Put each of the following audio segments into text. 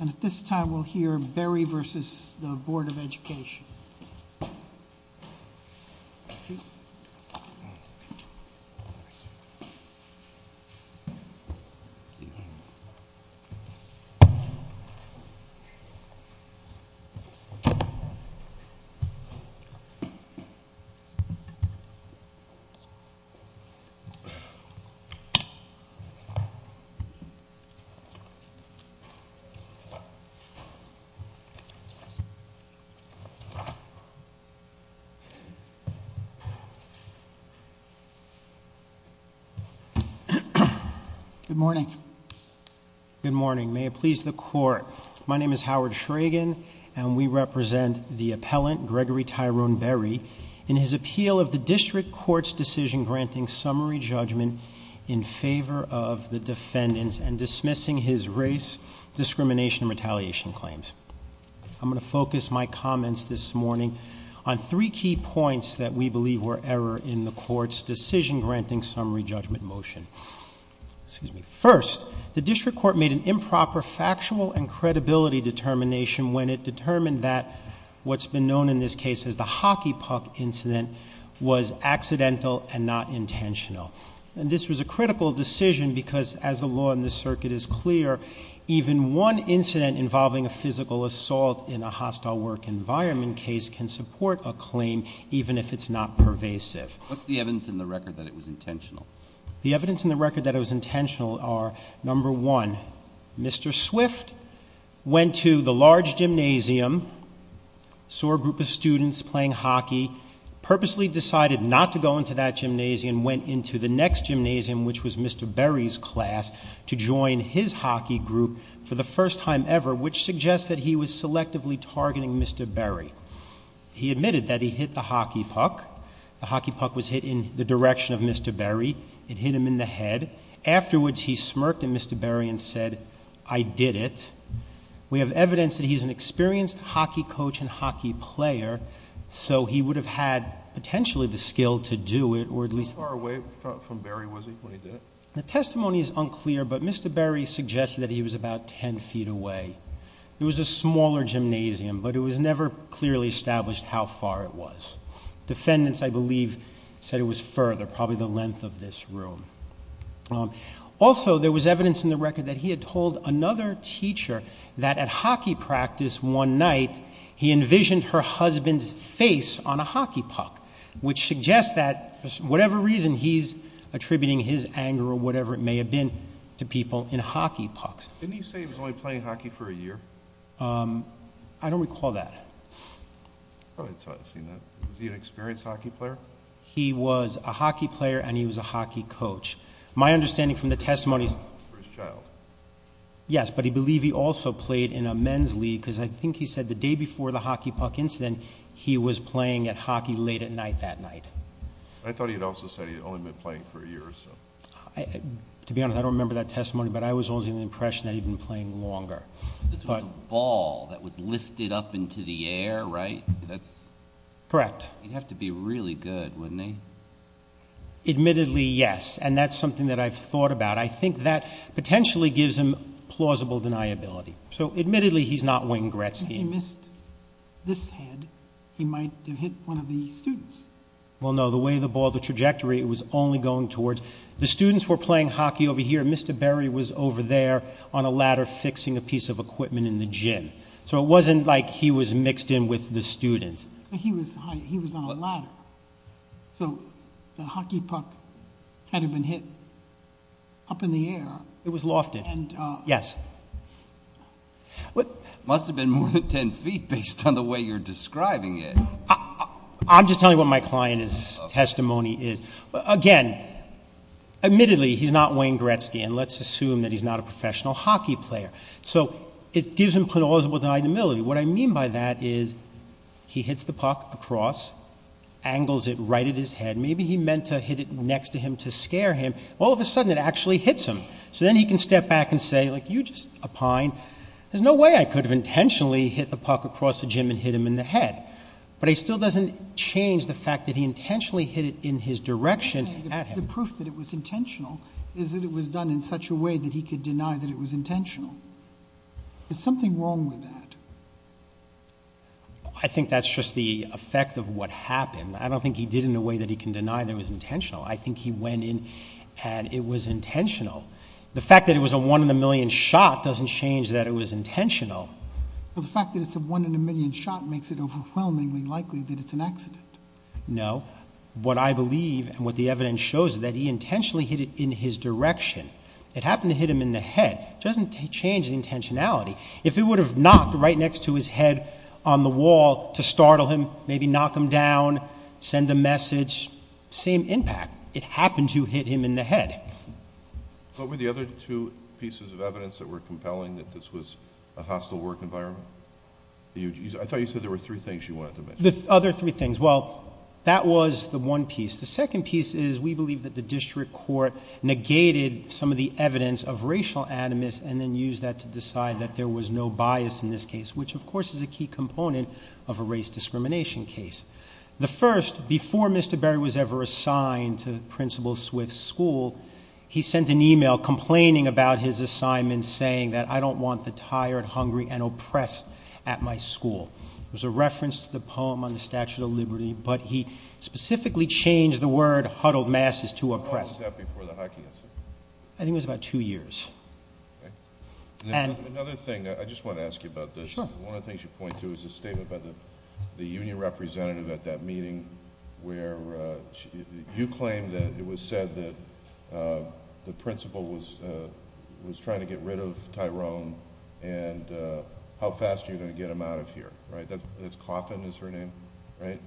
And at this time, we'll hear Berrie versus the Board of Education. Good morning. Good morning, may it please the court. My name is Howard Shragen and we represent the appellant Gregory Tyrone Berrie. In his appeal of the district court's decision granting summary judgment in favor of the defendants and dismissing his race, discrimination, and retaliation claims. I'm going to focus my comments this morning on three key points that we believe were error in the court's decision granting summary judgment motion. First, the district court made an improper factual and credibility determination when it determined that what's been known in this case as the hockey puck incident was accidental and not intentional. And this was a critical decision because as the law in this circuit is clear, even one incident involving a physical assault in a hostile work environment case can support a claim even if it's not pervasive. What's the evidence in the record that it was intentional? The evidence in the record that it was intentional are, number one, Mr. Swift went to the large gymnasium, saw a group of students playing hockey, purposely decided not to go into that gymnasium, went into the next gymnasium, which was Mr. Berrie's class, to join his hockey group for the first time ever, which suggests that he was selectively targeting Mr. Berrie. He admitted that he hit the hockey puck. The hockey puck was hit in the direction of Mr. Berrie. It hit him in the head. Afterwards, he smirked at Mr. Berrie and said, I did it. We have evidence that he's an experienced hockey coach and hockey player. So he would have had potentially the skill to do it, or at least- How far away from Berrie was he when he did it? The testimony is unclear, but Mr. Berrie suggested that he was about ten feet away. It was a smaller gymnasium, but it was never clearly established how far it was. Defendants, I believe, said it was further, probably the length of this room. Also, there was evidence in the record that he had told another teacher that at hockey practice one night, he envisioned her husband's face on a hockey puck, which suggests that, for whatever reason, he's attributing his anger, or whatever it may have been, to people in hockey pucks. Didn't he say he was only playing hockey for a year? I don't recall that. I probably would have seen that. Was he an experienced hockey player? He was a hockey player, and he was a hockey coach. My understanding from the testimony is- For his child. Yes, but he believed he also played in a men's league, because I think he said the day before the hockey puck incident, he was playing at hockey late at night that night. I thought he had also said he had only been playing for a year or so. To be honest, I don't remember that testimony, but I was always under the impression that he'd been playing longer. This was a ball that was lifted up into the air, right? That's- Correct. He'd have to be really good, wouldn't he? Admittedly, yes, and that's something that I've thought about. I think that potentially gives him plausible deniability. So admittedly, he's not Wayne Gretzky. If he missed this head, he might have hit one of the students. Well no, the way the ball, the trajectory, it was only going towards. The students were playing hockey over here, and Mr. Berry was over there on a ladder fixing a piece of equipment in the gym. So it wasn't like he was mixed in with the students. He was on a ladder. So the hockey puck had to have been hit up in the air. It was lofted. Yes. Must have been more than ten feet based on the way you're describing it. I'm just telling you what my client's testimony is. Again, admittedly, he's not Wayne Gretzky, and let's assume that he's not a professional hockey player. So it gives him plausible deniability. What I mean by that is, he hits the puck across, angles it right at his head. Maybe he meant to hit it next to him to scare him. All of a sudden, it actually hits him. So then he can step back and say, you're just a pine. There's no way I could have intentionally hit the puck across the gym and hit him in the head. But it still doesn't change the fact that he intentionally hit it in his direction at him. The proof that it was intentional is that it was done in such a way that he could deny that it was intentional. There's something wrong with that. I think that's just the effect of what happened. I don't think he did it in a way that he can deny that it was intentional. I think he went in and it was intentional. The fact that it was a one in a million shot doesn't change that it was intentional. The fact that it's a one in a million shot makes it overwhelmingly likely that it's an accident. No. What I believe, and what the evidence shows, is that he intentionally hit it in his direction. It happened to hit him in the head. It doesn't change the intentionality. If it would have knocked right next to his head on the wall to startle him, maybe knock him down, send a message. Same impact. It happened to hit him in the head. What were the other two pieces of evidence that were compelling that this was a hostile work environment? I thought you said there were three things you wanted to mention. The other three things. Well, that was the one piece. The second piece is we believe that the district court negated some of the evidence of racial animus and then used that to decide that there was no bias in this case, which of course is a key component of a race discrimination case. The first, before Mr. Berry was ever assigned to Principal Swift's school, he sent an email complaining about his assignment saying that I don't want the tired, hungry, and oppressed at my school. It was a reference to the poem on the Statue of Liberty, but he specifically changed the word huddled masses to oppressed. How long was that before the Hockey Incident? I think it was about two years. And- Another thing, I just want to ask you about this. Sure. One of the things you point to is a statement by the union representative at that meeting where you claimed that it was said that the principal was trying to get rid of Tyrone and how fast you're going to get him out of here. Right? That's Coffin is her name, right?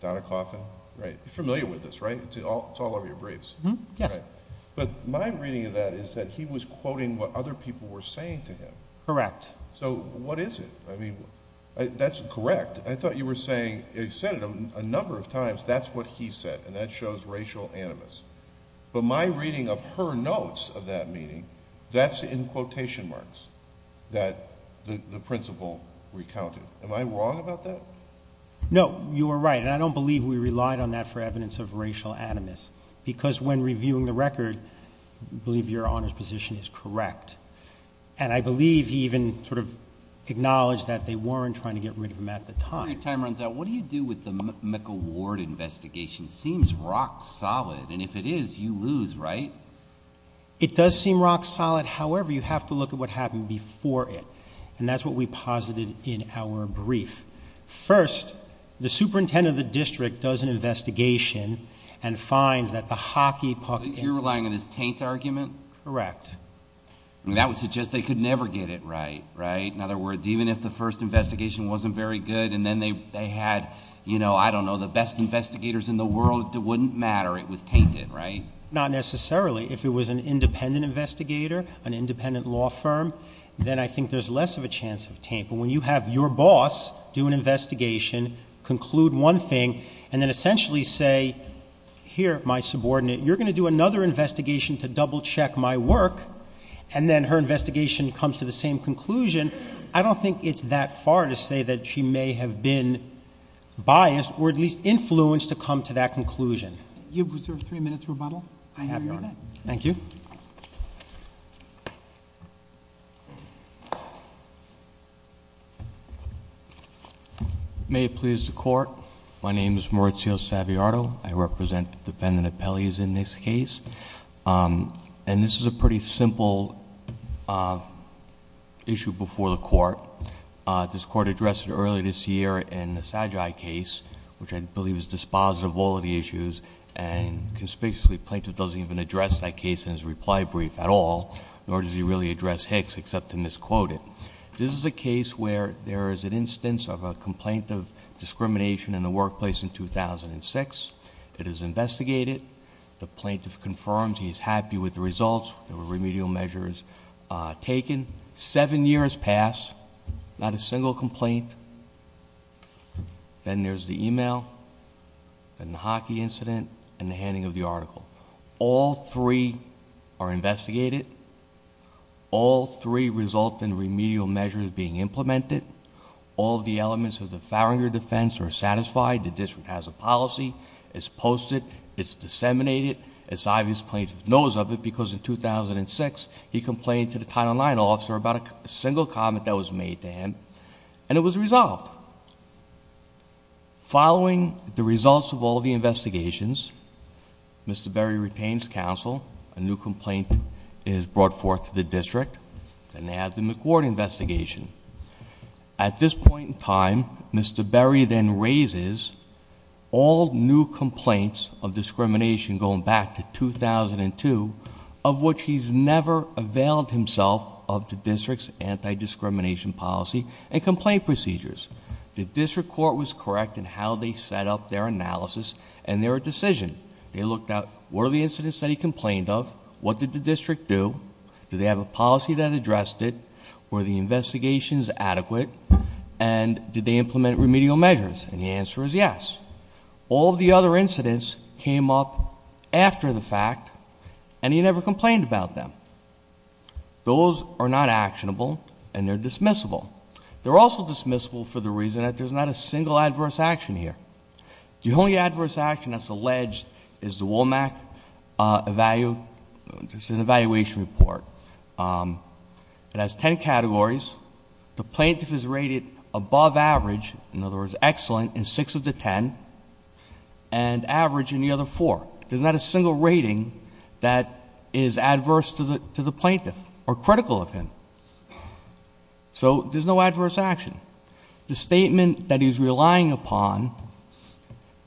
Donna Coffin? Right. You're familiar with this, right? It's all over your briefs. Yes. But my reading of that is that he was quoting what other people were saying to him. Correct. So what is it? I mean, that's correct. I thought you were saying, you said it a number of times, that's what he said, and that shows racial animus. But my reading of her notes of that meeting, that's in quotation marks that the principal recounted. Am I wrong about that? No. You are right. And I don't believe we relied on that for evidence of racial animus. Because when reviewing the record, I believe your Honor's position is correct. And I believe he even sort of acknowledged that they weren't trying to get rid of him at the time. Before your time runs out, what do you do with the Mecca Ward investigation? It seems rock solid, and if it is, you lose, right? It does seem rock solid. However, you have to look at what happened before it, and that's what we posited in our brief. First, the superintendent of the district does an investigation and finds that the hockey puck- You're relying on this taint argument? Correct. That would suggest they could never get it right, right? In other words, even if the first investigation wasn't very good, and then they had, I don't know, the best investigators in the world, it wouldn't matter, it was tainted, right? Not necessarily. If it was an independent investigator, an independent law firm, then I think there's less of a chance of taint. But when you have your boss do an investigation, conclude one thing, and then essentially say, here, my subordinate, you're going to do another investigation to double check my work. And then her investigation comes to the same conclusion. I don't think it's that far to say that she may have been biased, or at least influenced to come to that conclusion. You have reserved three minutes rebuttal. I have, Your Honor. Thank you. May it please the court. My name is Maurizio Saviato. I represent the defendant of Pelley's in this case. And this is a pretty simple issue before the court. This court addressed it earlier this year in the Sagi case, which I believe is dispositive of all of the issues. And conspicuously, plaintiff doesn't even address that case in his reply brief at all, nor does he really address Hicks, except to misquote it. This is a case where there is an instance of a complaint of discrimination in the workplace in 2006. It is investigated. The plaintiff confirms he's happy with the results. There were remedial measures taken. Seven years pass, not a single complaint. Then there's the email, and the hockey incident, and the handing of the article. All three are investigated. All three result in remedial measures being implemented. All of the elements of the Farringer defense are satisfied. The district has a policy, it's posted, it's disseminated. It's obvious plaintiff knows of it, because in 2006, he complained to the Title IX officer about a single comment that was made to him, and it was resolved. Following the results of all the investigations, Mr. Berry retains counsel. A new complaint is brought forth to the district, and they have the McWhort investigation. At this point in time, Mr. Berry then raises all new complaints of discrimination going back to 2002, of which he's never availed himself of the district's anti-discrimination policy and complaint procedures. The district court was correct in how they set up their analysis and their decision. They looked at what are the incidents that he complained of, what did the district do, did they have a policy that addressed it, were the investigations adequate, and did they implement remedial measures? And the answer is yes. All the other incidents came up after the fact, and he never complained about them. Those are not actionable, and they're dismissible. They're also dismissible for the reason that there's not a single adverse action here. The only adverse action that's alleged is the WOMAC evaluation report. It has ten categories. The plaintiff is rated above average, in other words excellent, in six of the ten, and average in the other four. There's not a single rating that is adverse to the plaintiff or critical of him. So there's no adverse action. The statement that he's relying upon,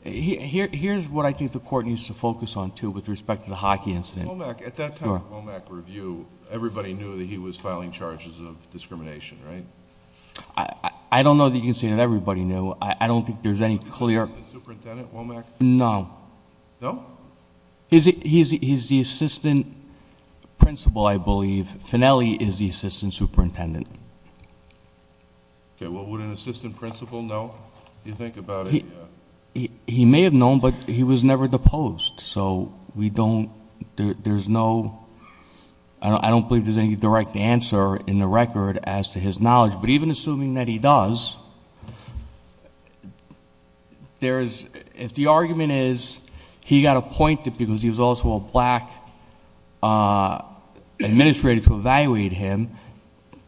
here's what I think the court needs to focus on too, with respect to the hockey incident. WOMAC, at that time, WOMAC review, everybody knew that he was filing charges of discrimination, right? I don't know that you can say that everybody knew. I don't think there's any clear- The assistant superintendent, WOMAC? No. No? He's the assistant principal, I believe. Finnelli is the assistant superintendent. Okay, well, would an assistant principal know, if you think about it? He may have known, but he was never deposed. So we don't, there's no, I don't believe there's any direct answer in the record as to his knowledge. But even assuming that he does, if the argument is he got appointed because he was also a black administrator to evaluate him,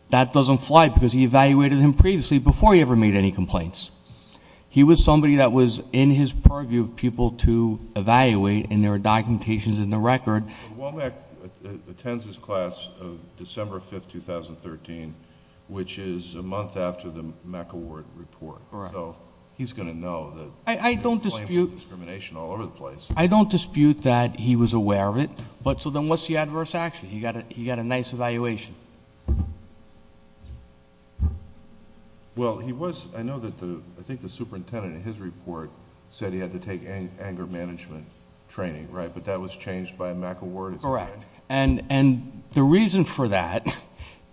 that doesn't fly, because he evaluated him previously before he ever made any complaints. He was somebody that was in his purview of people to evaluate, and there are documentations in the record. WOMAC attends his class December 5th, 2013, which is a month after the MAC award report. So he's going to know that- I don't dispute- There's claims of discrimination all over the place. I don't dispute that he was aware of it. But so then what's the adverse action? He got a nice evaluation. Well, he was, I know that the, I think the superintendent in his report said he had to take anger management training, right? But that was changed by a MAC award? Correct. And the reason for that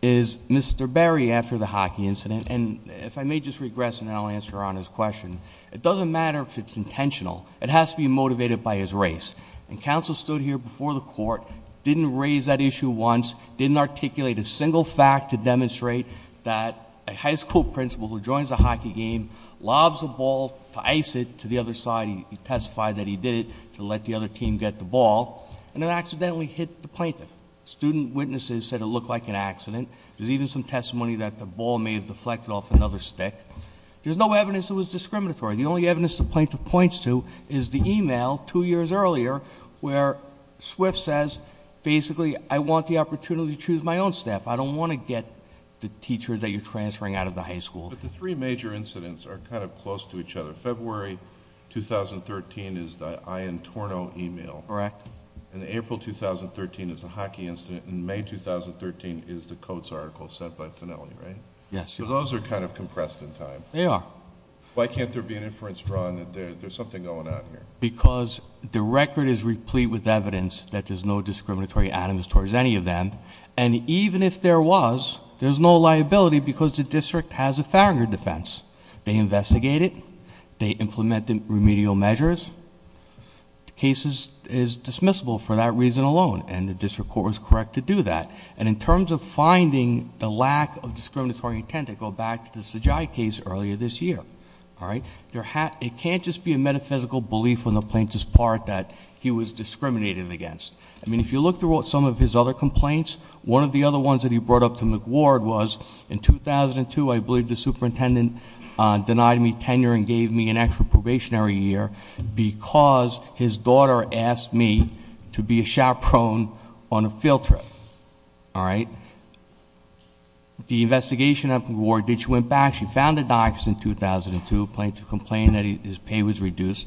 is Mr. Barry, after the hockey incident, and if I may just regress and then I'll answer on his question, it doesn't matter if it's intentional. It has to be motivated by his race. And counsel stood here before the court, didn't raise that issue once, didn't articulate a single fact to demonstrate that a high school principal who joins a hockey game, lobs a ball to ice it to the other side, he testified that he did it to let the other team get the ball. And it accidentally hit the plaintiff. Student witnesses said it looked like an accident. There's even some testimony that the ball may have deflected off another stick. There's no evidence it was discriminatory. The only evidence the plaintiff points to is the email two years earlier where Swift says basically I want the opportunity to choose my own staff. I don't want to get the teacher that you're transferring out of the high school. But the three major incidents are kind of close to each other. February 2013 is the Iantorno email. Correct. And April 2013 is the hockey incident. And May 2013 is the Coates article sent by Finnelli, right? Yes. So those are kind of compressed in time. They are. Why can't there be an inference drawn that there's something going on here? Because the record is replete with evidence that there's no discriminatory items towards any of them. And even if there was, there's no liability because the district has a founder defense. They investigate it. They implement the remedial measures. Cases is dismissible for that reason alone. And the district court was correct to do that. And in terms of finding the lack of discriminatory intent, I go back to the Sajai case earlier this year. All right? It can't just be a metaphysical belief on the plaintiff's part that he was discriminated against. I mean, if you look through some of his other complaints, one of the other ones that he brought up to McWard was in 2002, I believe the superintendent denied me tenure and gave me an extra probationary year because his daughter asked me to be a chaperone on a field trip. All right? The investigation at McWard, she went back, she found the docs in 2002, plaintiff complained that his pay was reduced.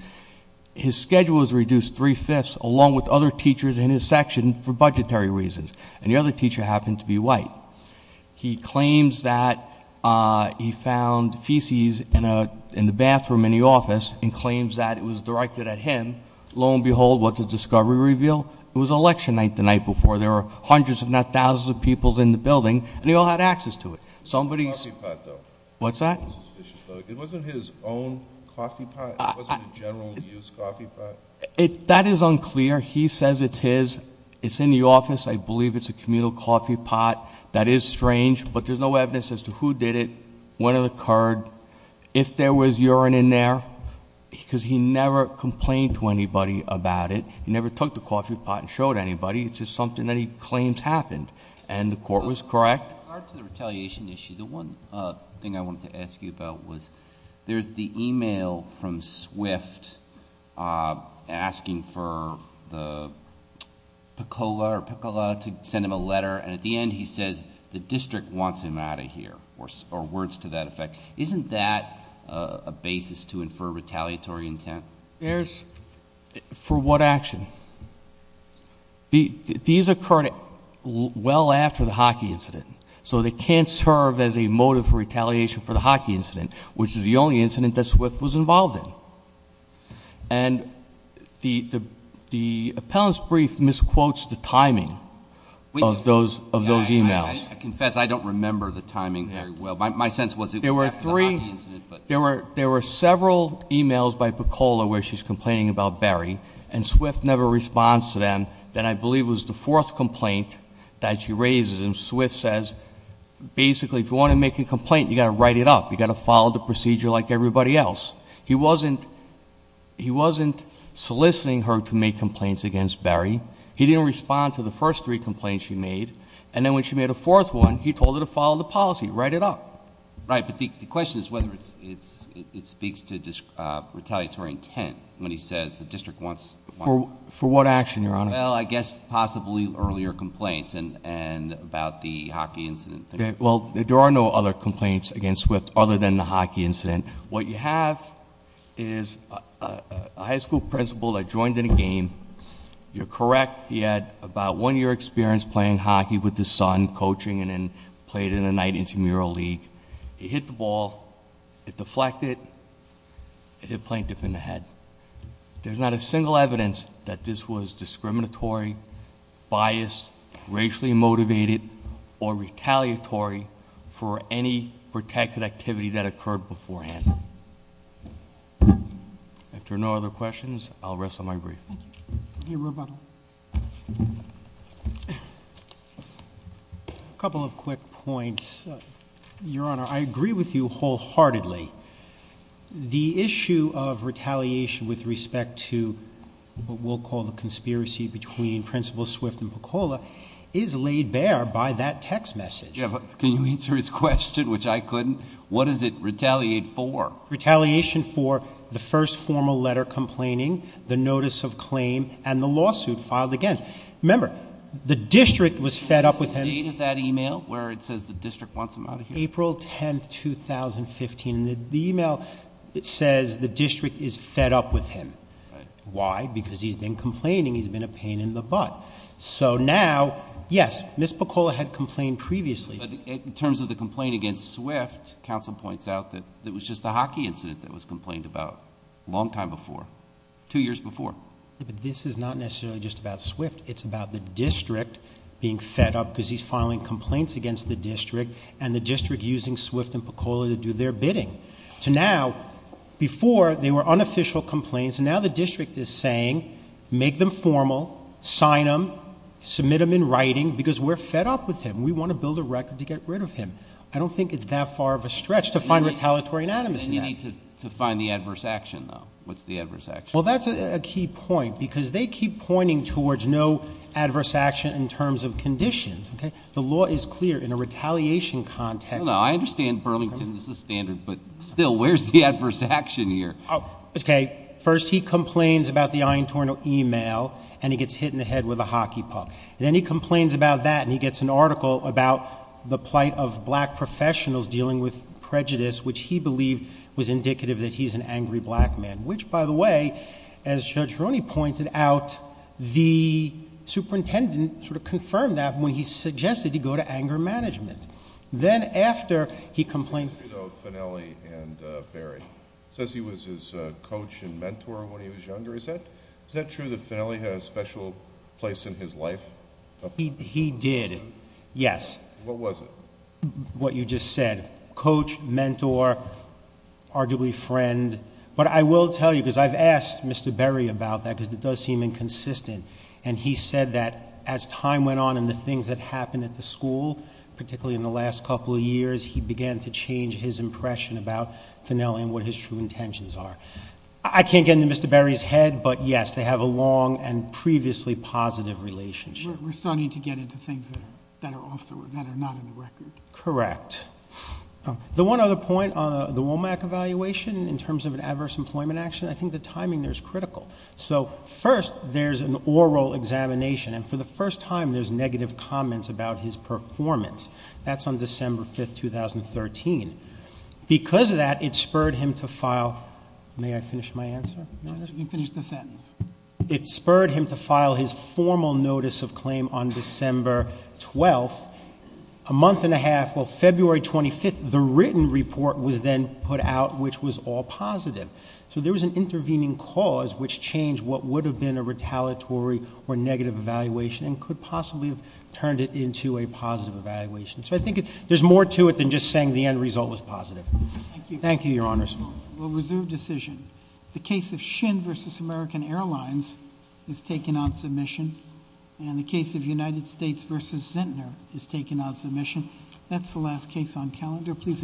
His schedule was reduced three-fifths along with other teachers in his section for budgetary reasons. And the other teacher happened to be white. He claims that he found feces in the bathroom in the office and claims that it was directed at him, lo and behold, what does discovery reveal? It was election night the night before. There were hundreds, if not thousands of people in the building, and they all had access to it. Somebody's- Coffee pot though. What's that? It wasn't his own coffee pot? It wasn't a general use coffee pot? That is unclear. He says it's his. It's in the office. I believe it's a communal coffee pot. That is strange, but there's no evidence as to who did it, when it occurred, if there was urine in there. because he never complained to anybody about it. He never took the coffee pot and showed anybody. It's just something that he claims happened. And the court was correct. In regard to the retaliation issue, the one thing I wanted to ask you about was, there's the email from Swift asking for the Pecola to send him a letter, and at the end he says, the district wants him out of here, or words to that effect. Isn't that a basis to infer retaliatory intent? There's, for what action? These occurred well after the hockey incident. So they can't serve as a motive for retaliation for the hockey incident, which is the only incident that Swift was involved in. And the appellant's brief misquotes the timing of those emails. I confess I don't remember the timing very well. My sense was it was after the hockey incident, but- There were several emails by Pecola where she's complaining about Barry, and Swift never responds to them, that I believe was the fourth complaint that she raises. And Swift says, basically, if you want to make a complaint, you got to write it up. You got to follow the procedure like everybody else. He wasn't soliciting her to make complaints against Barry. He didn't respond to the first three complaints she made. And then when she made a fourth one, he told her to follow the policy, write it up. Right, but the question is whether it speaks to retaliatory intent when he says the district wants- For what action, Your Honor? Well, I guess possibly earlier complaints and about the hockey incident. Well, there are no other complaints against Swift other than the hockey incident. What you have is a high school principal that joined in a game. You're correct. He had about one year experience playing hockey with his son, coaching, and then played in a night intramural league. He hit the ball, it deflected, it hit Plaintiff in the head. There's not a single evidence that this was discriminatory, biased, racially motivated, or retaliatory for any protected activity that occurred beforehand. After no other questions, I'll rest on my brief. Thank you. Your rebuttal. Couple of quick points. Your Honor, I agree with you wholeheartedly. The issue of retaliation with respect to what we'll call the conspiracy between Principal Swift and Pecola is laid bare by that text message. Yeah, but can you answer his question, which I couldn't? What does it retaliate for? Retaliation for the first formal letter complaining, the notice of claim, and the lawsuit filed against. Remember, the district was fed up with him. The date of that email where it says the district wants him out of here? April 10th, 2015. The email, it says the district is fed up with him. Why? Because he's been complaining, he's been a pain in the butt. So now, yes, Ms. Pecola had complained previously. But in terms of the complaint against Swift, counsel points out that it was just a hockey incident that was complained about a long time before, two years before. This is not necessarily just about Swift, it's about the district being fed up because he's filing complaints against the district. And the district using Swift and Pecola to do their bidding. So now, before they were unofficial complaints, and now the district is saying, make them formal, sign them, submit them in writing, because we're fed up with him. And we want to build a record to get rid of him. I don't think it's that far of a stretch to find retaliatory anatomy in that. And you need to find the adverse action, though. What's the adverse action? Well, that's a key point, because they keep pointing towards no adverse action in terms of conditions, okay? The law is clear in a retaliation context. No, no, I understand Burlington, this is standard, but still, where's the adverse action here? Okay, first he complains about the iron tornado email, and he gets hit in the head with a hockey puck. Then he complains about that, and he gets an article about the plight of black professionals dealing with prejudice, which he believed was indicative that he's an angry black man. Which, by the way, as Judge Roney pointed out, the superintendent sort of confirmed that when he suggested he go to anger management. Then after he complained- Is it true, though, of Finnelli and Berry? It says he was his coach and mentor when he was younger. Is that true that Finnelli had a special place in his life? He did, yes. What was it? What you just said. Coach, mentor, arguably friend. But I will tell you, because I've asked Mr. Berry about that, because it does seem inconsistent. And he said that as time went on and the things that happened at the school, particularly in the last couple of years, he began to change his impression about Finnelli and what his true intentions are. I can't get into Mr. Berry's head, but yes, they have a long and previously positive relationship. We're starting to get into things that are not in the record. Correct. The one other point on the WOMAC evaluation, in terms of an adverse employment action, I think the timing there is critical. So first, there's an oral examination, and for the first time, there's negative comments about his performance. That's on December 5th, 2013. Because of that, it spurred him to file, may I finish my answer? You can finish the sentence. It spurred him to file his formal notice of claim on December 12th, a month and a half. Well, February 25th, the written report was then put out, which was all positive. So there was an intervening cause which changed what would have been a retaliatory or negative evaluation and could possibly have turned it into a positive evaluation. So I think there's more to it than just saying the end result was positive. Thank you, your honors. We'll reserve decision. The case of Shin versus American Airlines is taken on submission. And the case of United States versus Zintner is taken on submission. That's the last case on calendar. Please adjourn.